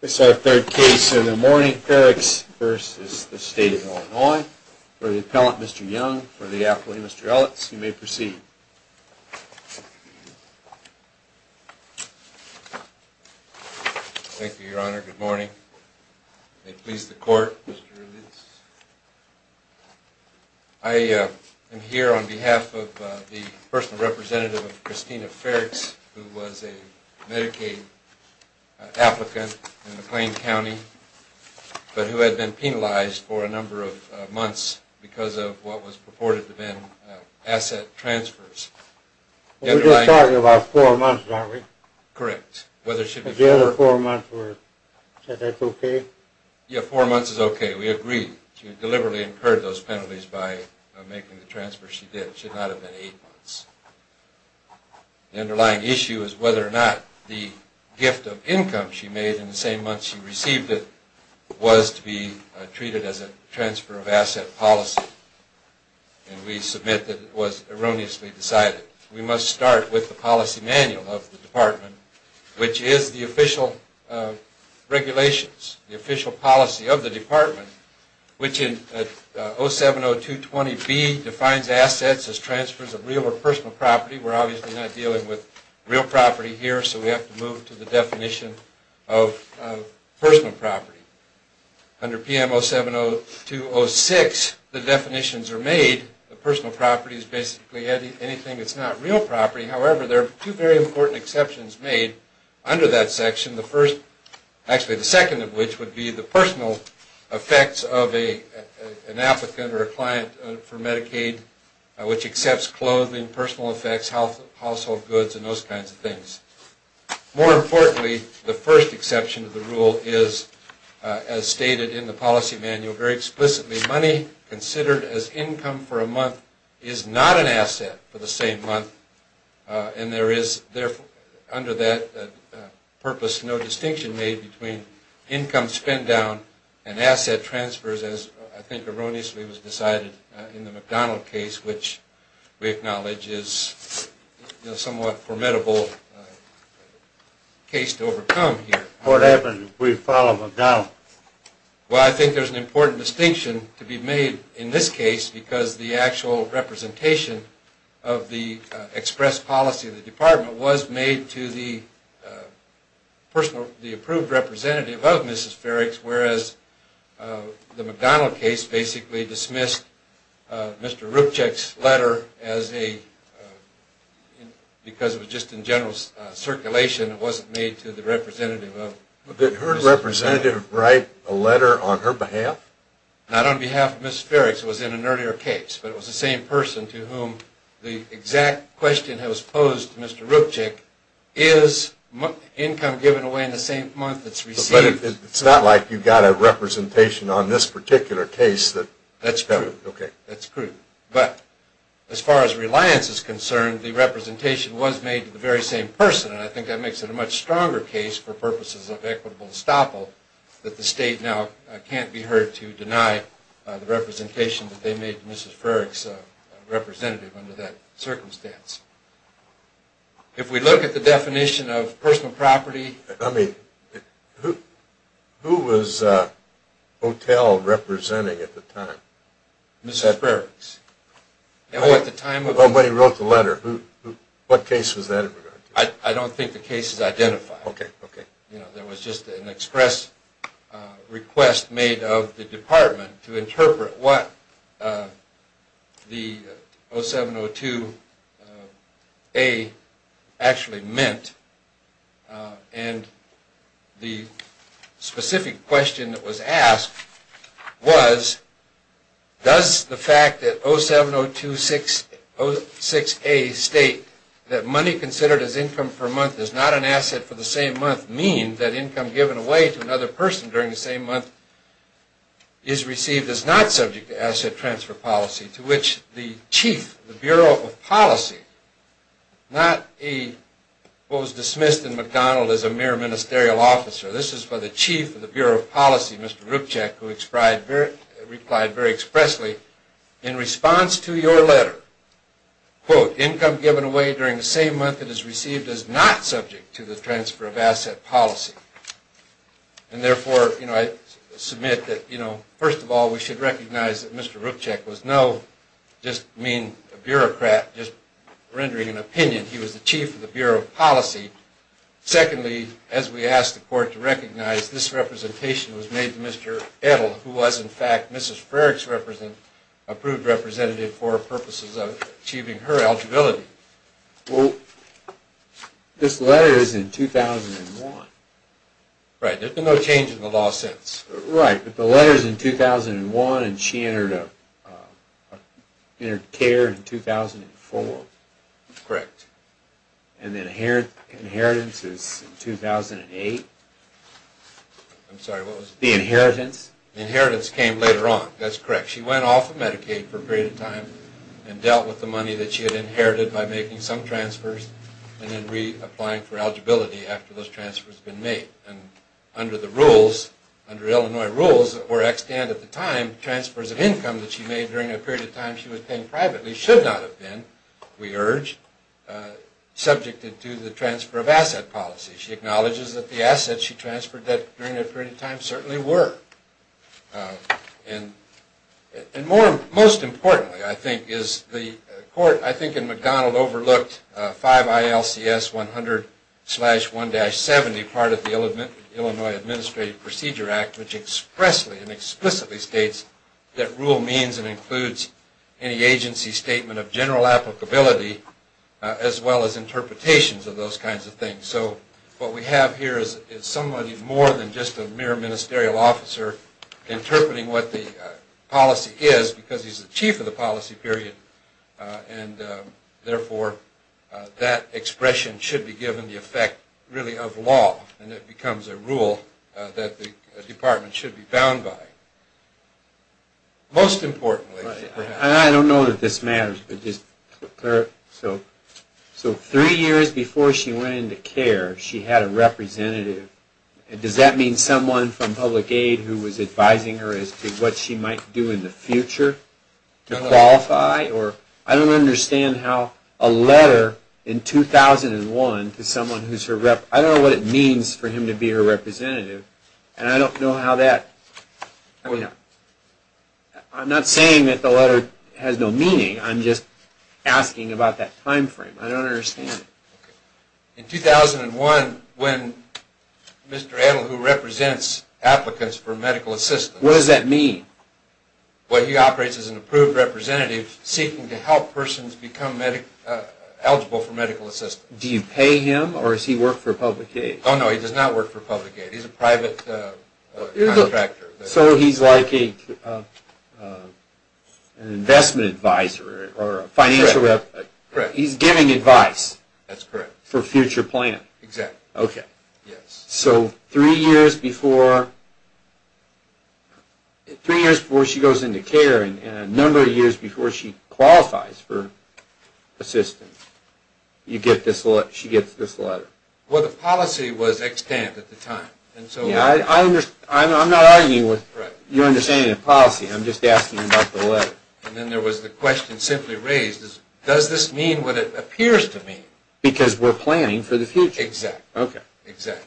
This is our third case in the morning, Ferrichs v. State of Illinois. For the appellant, Mr. Young. For the appellant, Mr. Ellis. You may proceed. Thank you, your honor. Good morning. May it please the court. I am here on behalf of the personal representative of Christina Ferrichs, who was a Medicaid applicant in McLean County, but who had been penalized for a number of months because of what was purported to have been asset transfers. We're just talking about four months, aren't we? Correct. The other four months, is that okay? Yeah, four months is okay. We agree. She deliberately incurred those penalties by making the transfer she did. It should not have been eight months. The underlying issue is whether or not the gift of income she made in the same month she received it was to be treated as a transfer of asset policy. And we submit that it was erroneously decided. We must start with the policy manual of the department, which is the official regulations, the official policy of the department, which in 070220B defines assets as transfers of real or personal property. We're obviously not dealing with real property here, so we have to move to the definition of personal property. Under PM 070206, the definitions are made that personal property is basically anything that's not real property. However, there are two very important exceptions made under that section. The first, actually the second of which, would be the personal effects of an applicant or a client for Medicaid, which accepts clothing, personal effects, household goods, and those kinds of things. More importantly, the first exception to the rule is, as stated in the policy manual very explicitly, money considered as income for a month is not an asset for the same month. And there is, therefore, under that purpose, no distinction made between income spent down and asset transfers, as I think erroneously was decided in the McDonald case, which we acknowledge is a somewhat formidable case to overcome here. What happens if we follow McDonald? Well, I think there's an important distinction to be made in this case because the actual representation of the express policy of the department was made to the approved representative of Mrs. Ferricks, whereas the McDonald case basically dismissed Mr. Rupchik's letter as a, because it was just in general circulation, it wasn't made to the representative of Mrs. Ferricks. Did her representative write a letter on her behalf? Not on behalf of Mrs. Ferricks. It was in an earlier case. But it was the same person to whom the exact question that was posed to Mr. Rupchik, is income given away in the same month it's received? But it's not like you've got a representation on this particular case. That's true. Okay. That's true. But as far as reliance is concerned, the representation was made to the very same person, and I think that makes it a much stronger case for purposes of equitable estoppel that the state now can't be heard to deny the representation that they made to Mrs. Ferricks' representative under that circumstance. If we look at the definition of personal property... I mean, who was Otel representing at the time? Mrs. Ferricks. At the time of when he wrote the letter, what case was that in regard to? I don't think the case is identified. Okay, okay. There was just an express request made of the department to interpret what the 0702A actually meant. And the specific question that was asked was, does the fact that 0702A states that money considered as income per month is not an asset for the same month mean that income given away to another person during the same month is received is not subject to asset transfer policy? To which the chief of the Bureau of Policy, not what was dismissed in McDonald as a mere ministerial officer, this is for the chief of the Bureau of Policy, Mr. Rupchak, who replied very expressly in response to your letter, quote, income given away during the same month it is received is not subject to the transfer of asset policy. And therefore, you know, I submit that, you know, first of all, we should recognize that Mr. Rupchak was no just mean bureaucrat just rendering an opinion. He was the chief of the Bureau of Policy. Secondly, as we asked the court to recognize, this representation was made to Mr. Etel, who was, in fact, Mrs. Ferrick's approved representative for purposes of achieving her eligibility. Well, this letter is in 2001. Right. There's been no change in the law since. Right. But the letter is in 2001, and she entered care in 2004. Correct. And the inheritance is in 2008. I'm sorry, what was it? The inheritance. The inheritance came later on. That's correct. She went off of Medicaid for a period of time and dealt with the money that she had inherited by making some transfers and then reapplying for eligibility after those transfers had been made. And under the rules, under Illinois rules that were extant at the time, transfers of income that she made during that period of time she was paying privately should not have been, we urge, subjected to the transfer of asset policy. She acknowledges that the assets she transferred during that period of time certainly were. And most importantly, I think, is the court, I think, in McDonald overlooked 5 ILCS 100 slash 1-70 part of the Illinois Administrative Procedure Act, which expressly and explicitly states that rule means and includes any agency statement of general applicability as well as interpretations of those kinds of things. So what we have here is somebody more than just a mere ministerial officer interpreting what the policy is because he's the chief of the policy period. And therefore, that expression should be given the effect really of law. And it becomes a rule that the department should be bound by. Most importantly. I don't know that this matters. So three years before she went into care, she had a representative. Does that mean someone from public aid who was advising her as to what she might do in the future to qualify? I don't understand how a letter in 2001 to someone who's her, I don't know what it means for him to be her representative. And I don't know how that. I'm not saying that the letter has no meaning. I'm just asking about that time frame. I don't understand. In 2001, when Mr. Edel, who represents applicants for medical assistance. What does that mean? Well, he operates as an approved representative seeking to help persons become eligible for medical assistance. Do you pay him or does he work for public aid? Oh, no. He does not work for public aid. He's a private contractor. So he's like an investment advisor or a financial rep. Correct. He's giving advice. That's correct. For future plan. Exactly. Okay. Yes. So three years before she goes into care and a number of years before she qualifies for assistance, she gets this letter. Well, the policy was extant at the time. I'm not arguing with your understanding of policy. I'm just asking about the letter. And then there was the question simply raised. Does this mean what it appears to mean? Because we're planning for the future. Exactly. Okay. Exactly.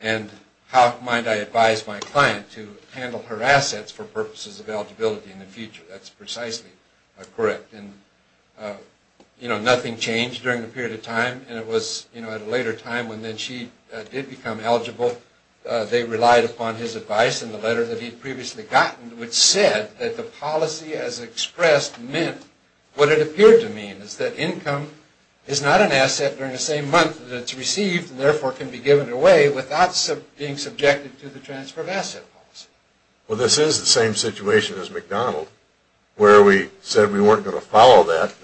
And how might I advise my client to handle her assets for purposes of eligibility in the future? That's precisely correct. And, you know, nothing changed during the period of time. And it was, you know, at a later time when she did become eligible, they relied upon his advice and the letter that he'd previously gotten, which said that the policy as expressed meant what it appeared to mean, is that income is not an asset during the same month that it's received and therefore can be given away without being subjected to the transfer of asset policy. Well, this is the same situation as McDonald where we said we weren't going to follow that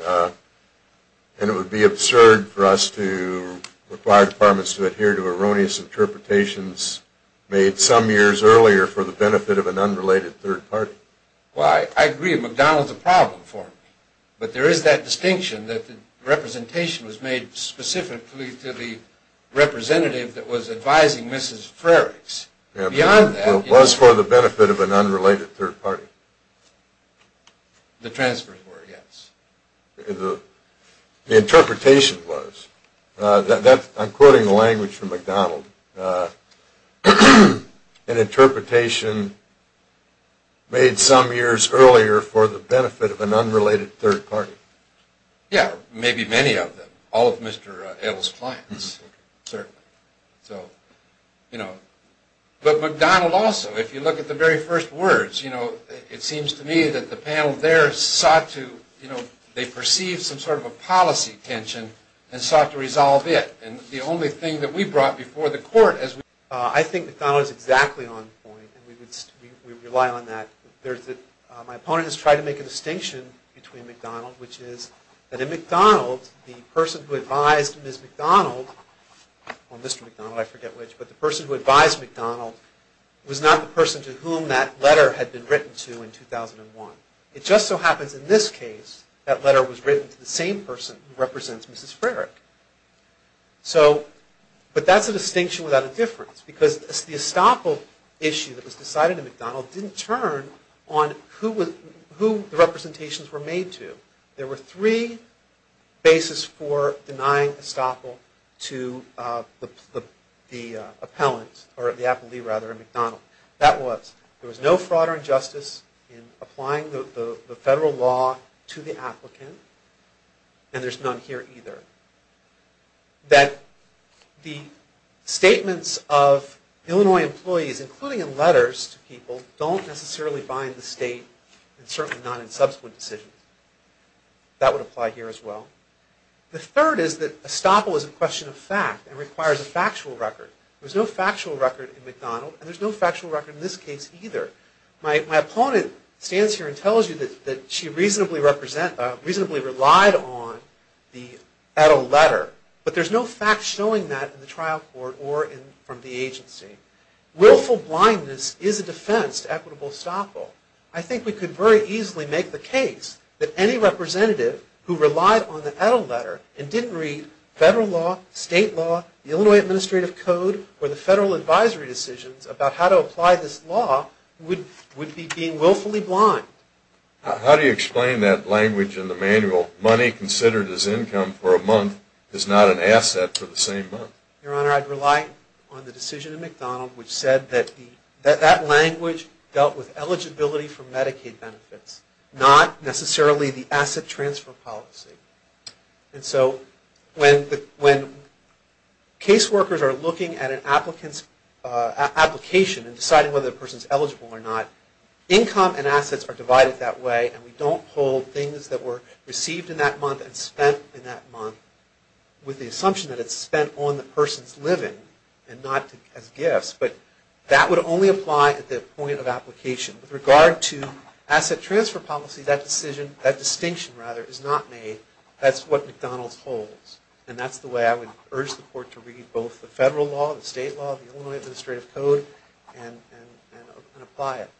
and it would be absurd for us to require departments to adhere to erroneous interpretations made some years earlier for the benefit of an unrelated third party. Well, I agree. McDonald's a problem for me. But there is that distinction that the representation was made specifically to the representative that was advising Mrs. Frerichs. It was for the benefit of an unrelated third party. The transfers were, yes. The interpretation was. I'm quoting a language from McDonald. An interpretation made some years earlier for the benefit of an unrelated third party. Yeah, maybe many of them. All of Mr. Edel's clients, certainly. So, you know. But McDonald also, if you look at the very first words, it seems to me that the panel there sought to, they perceived some sort of a policy tension and sought to resolve it. And the only thing that we brought before the court as we... I think McDonald is exactly on point. We rely on that. My opponent has tried to make a distinction between McDonald, which is that in McDonald, the person who advised Ms. McDonald, or Mr. McDonald, I forget which, but the person who advised McDonald was not the person to whom that letter had been written to in 2001. It just so happens in this case, that letter was written to the same person who represents Mrs. Frerich. So, but that's a distinction without a difference. Because the estoppel issue that was decided in McDonald didn't turn on who the representations were made to. There were three bases for denying estoppel to the appellant, or the appellee, rather, in McDonald. That was, there was no fraud or injustice in applying the federal law to the applicant, and there's none here either. That the statements of Illinois employees, including in letters to people, don't necessarily bind the state, and certainly not in subsequent decisions. That would apply here as well. The third is that estoppel is a question of fact, and requires a factual record. There's no factual record in McDonald, and there's no factual record in this case either. My opponent stands here and tells you that she reasonably relied on the etto letter, but there's no fact showing that in the trial court or from the agency. Willful blindness is a defense to equitable estoppel. I think we could very easily make the case that any representative who relied on the etto letter and didn't read federal law, state law, the Illinois Administrative Code, or the federal advisory decisions about how to apply this law would be being willfully blind. How do you explain that language in the manual, money considered as income for a month is not an asset for the same month? Your Honor, I'd rely on the decision in McDonald, which said that that language dealt with eligibility for Medicaid benefits, not necessarily the asset transfer policy. And so when caseworkers are looking at an application and deciding whether the person is eligible or not, income and assets are divided that way, and we don't hold things that were received in that month and spent in that month with the assumption that it's spent on the person's living and not as gifts. But that would only apply at the point of application. With regard to asset transfer policy, that distinction is not made. That's what McDonald's holds. And that's the way I would urge the Court to read both the federal law, the state law, the Illinois Administrative Code, and apply it.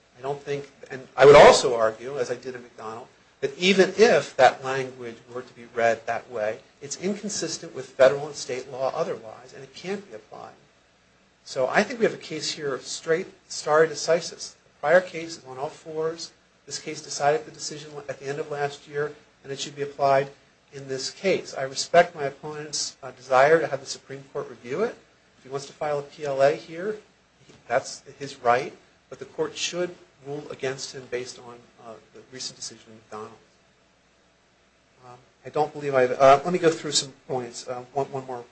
I would also argue, as I did in McDonald, that even if that language were to be read that way, it's inconsistent with federal and state law otherwise, and it can't be applied. So I think we have a case here of straight stare decisis. The prior case is on all fours. This case decided the decision at the end of last year, and it should be applied in this case. I respect my opponent's desire to have the Supreme Court review it. If he wants to file a PLA here, that's his right. But the Court should rule against him based on the recent decision in McDonald's. Let me go through some points. One more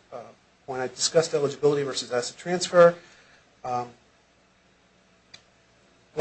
point. I discussed eligibility versus asset transfer. One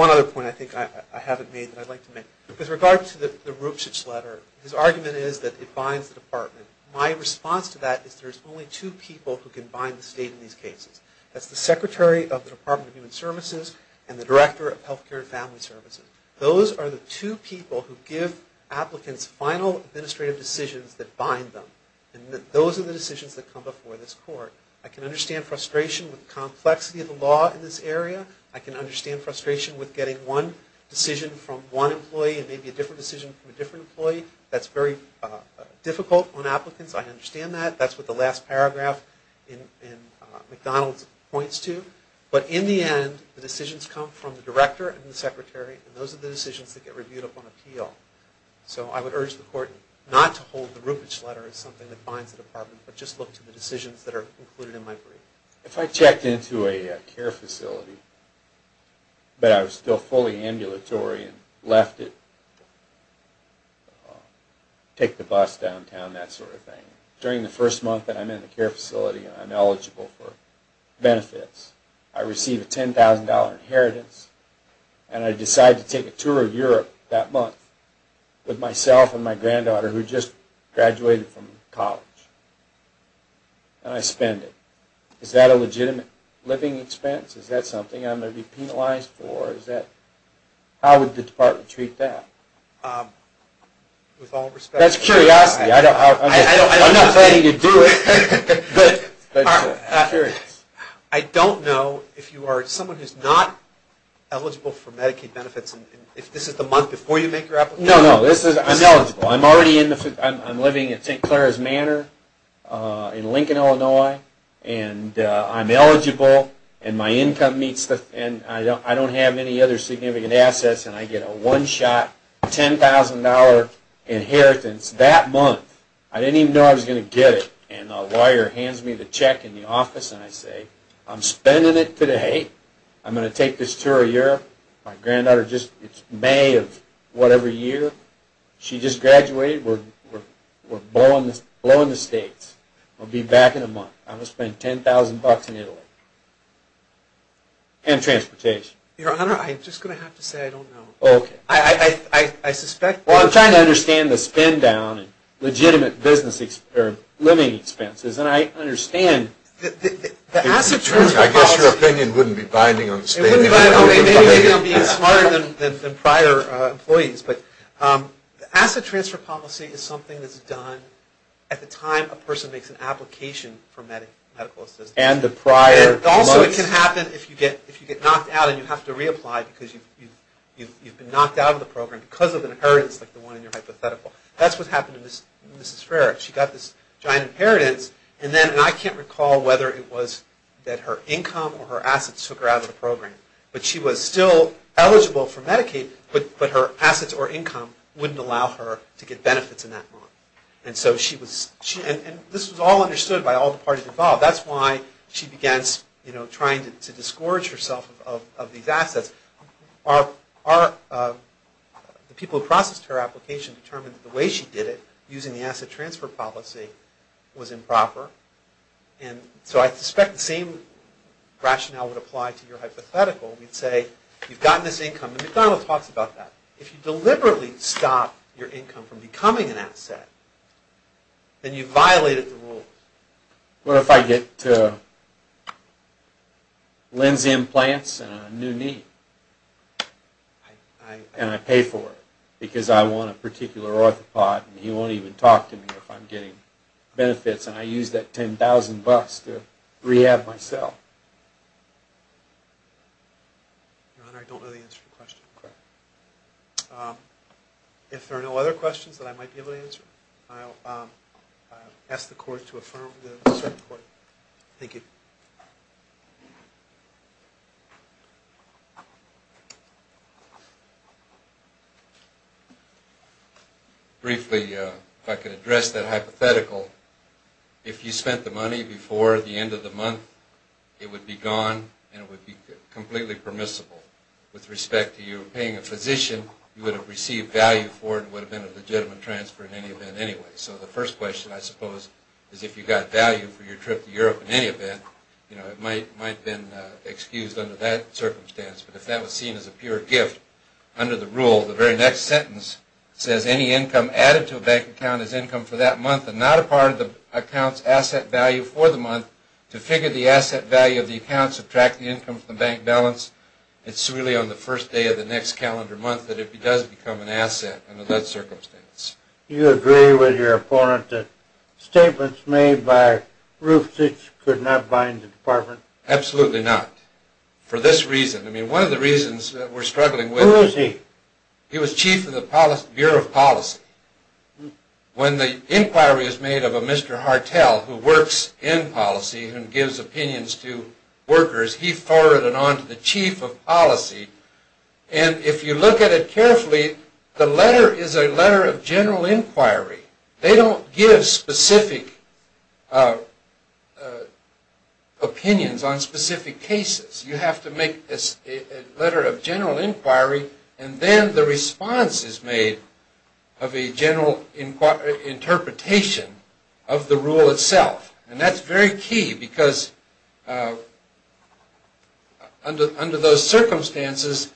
other point I think I haven't made that I'd like to make. With regard to the Rupcich letter, his argument is that it binds the Department. My response to that is there's only two people who can bind the State in these cases. That's the Secretary of the Department of Human Services and the Director of Health Care and Family Services. Those are the two people who give applicants final administrative decisions that bind them, and those are the decisions that come before this Court. I can understand frustration with the complexity of the law in this area. I can understand frustration with getting one decision from one employee and maybe a different decision from a different employee. That's very difficult on applicants. I understand that. That's what the last paragraph in McDonald's points to. But in the end, the decisions come from the Director and the Secretary, and those are the decisions that get reviewed upon appeal. So I would urge the Court not to hold the Rupcich letter as something that binds the Department, but just look to the decisions that are included in my brief. If I checked into a care facility, but I was still fully ambulatory and left it, take the bus downtown, that sort of thing. During the first month that I'm in the care facility and I'm eligible for benefits, I receive a $10,000 inheritance, and I decide to take a tour of Europe that month with myself and my granddaughter who just graduated from college, and I spend it. Is that a legitimate living expense? Is that something I'm going to be penalized for? How would the Department treat that? That's curiosity. I'm not planning to do it, but I'm curious. I don't know if you are someone who's not eligible for Medicaid benefits, and if this is the month before you make your application. No, no, I'm eligible. I'm living at St. Clara's Manor in Lincoln, Illinois, and I'm eligible, and my income meets the, and I don't have any other significant assets, and I get a one-shot $10,000 inheritance that month. I didn't even know I was going to get it, and a lawyer hands me the check in the office, and I say, I'm spending it today. I'm going to take this tour of Europe. My granddaughter just, it's May of whatever year. She just graduated. We're blowing the states. We'll be back in a month. I'm going to spend $10,000 in Italy and transportation. Your Honor, I'm just going to have to say I don't know. Okay. I suspect. Well, I'm trying to understand the spend down and legitimate living expenses, and I understand the asset transfer policy. I guess your opinion wouldn't be binding on spending. It wouldn't bind on me. Maybe I'm being smarter than prior employees, but the asset transfer policy is something that's done at the time a person makes an application for medical assistance. And the prior months. It can happen if you get knocked out and you have to reapply because you've been knocked out of the program because of an inheritance like the one in your hypothetical. That's what happened to Mrs. Frerichs. She got this giant inheritance, and then, and I can't recall whether it was that her income or her assets took her out of the program, but she was still eligible for Medicaid, but her assets or income wouldn't allow her to get benefits in that month. And so she was, and this was all understood by all the parties involved. That's why she begins, you know, trying to discourage herself of these assets. The people who processed her application determined that the way she did it, using the asset transfer policy, was improper. And so I suspect the same rationale would apply to your hypothetical. We'd say, you've gotten this income, and McDonald talks about that. If you deliberately stop your income from becoming an asset, then you've violated the rules. What if I get linseed implants and a new knee? And I pay for it because I want a particular orthopod, and he won't even talk to me if I'm getting benefits, and I use that $10,000 to rehab myself? Your Honor, I don't know the answer to your question. If there are no other questions that I might be able to answer, I'll ask the Court to affirm the second point. Thank you. Briefly, if I could address that hypothetical, if you spent the money before the end of the month, it would be gone, and it would be completely permissible. With respect to you paying a physician, you would have received value for it and it would have been a legitimate transfer in any event anyway. So the first question, I suppose, is if you got value for your trip to Europe in any event, it might have been excused under that circumstance. But if that was seen as a pure gift under the rule, the very next sentence says, any income added to a bank account is income for that month and not a part of the account's asset value for the month. To figure the asset value of the account, subtract the income from the bank balance, it's really on the first day of the next calendar month that it does become an asset. Under that circumstance. Do you agree with your opponent that statements made by Rufstich could not bind the Department? Absolutely not. For this reason. I mean, one of the reasons that we're struggling with... Who is he? He was chief of the Bureau of Policy. When the inquiry is made of a Mr. Hartel who works in policy and gives opinions to workers, he forwarded it on to the chief of policy. And if you look at it carefully, the letter is a letter of general inquiry. They don't give specific opinions on specific cases. You have to make a letter of general inquiry, and then the response is made of a general interpretation of the rule itself. And that's very key because under those circumstances,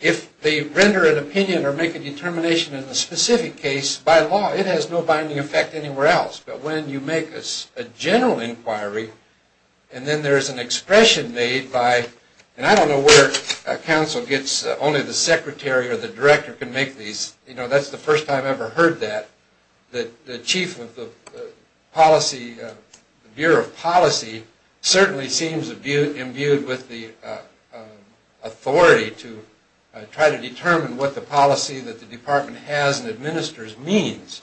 if they render an opinion or make a determination in a specific case, by law, it has no binding effect anywhere else. But when you make a general inquiry, and then there is an expression made by... And I don't know where counsel gets... Only the secretary or the director can make these. You know, that's the first time I've ever heard that. The chief of the Bureau of Policy certainly seems imbued with the authority to try to determine what the policy that the department has and administers means.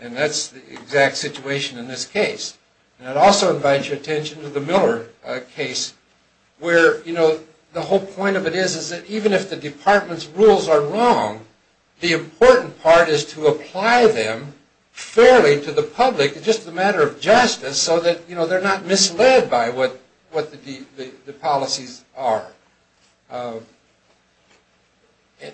And that's the exact situation in this case. And I'd also invite your attention to the Miller case where, you know, the whole point of it is that even if the department's rules are wrong, the important part is to apply them fairly to the public. It's just a matter of justice so that, you know, they're not misled by what the policies are.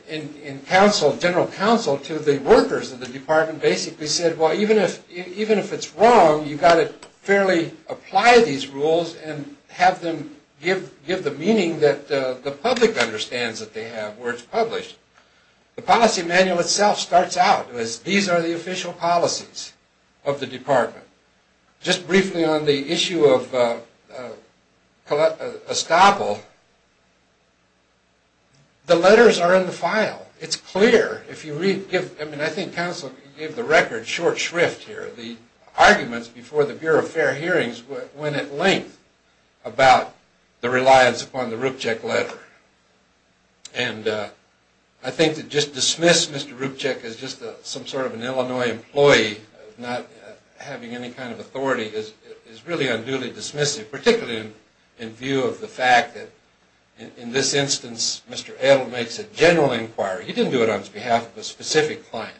And counsel, general counsel to the workers of the department basically said, well, even if it's wrong, you've got to fairly apply these rules and have them give the meaning that the public understands that they have where it's published. The policy manual itself starts out as these are the official policies of the department. Just briefly on the issue of Estoppel, the letters are in the file. It's clear. If you read... I mean, I think counsel gave the record short shrift here. The arguments before the Bureau of Fair Hearings went at length about the reliance upon the Rupchik letter. And I think to just dismiss Mr. Rupchik as just some sort of an Illinois employee, not having any kind of authority is really unduly dismissive, particularly in view of the fact that in this instance, Mr. Adle makes a general inquiry. He didn't do it on behalf of a specific client.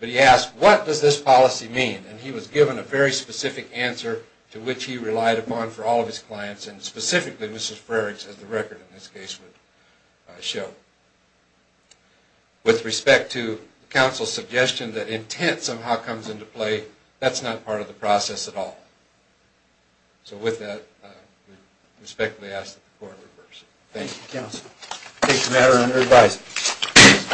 But he asked, what does this policy mean? And he was given a very specific answer to which he relied upon for all of his clients, and specifically Mrs. Frerichs, as the record in this case would show. With respect to counsel's suggestion that intent somehow comes into play, that's not part of the process at all. So with that, I respectfully ask that the court reverse it. Thank you, counsel. Thank you, Madam, for your advice.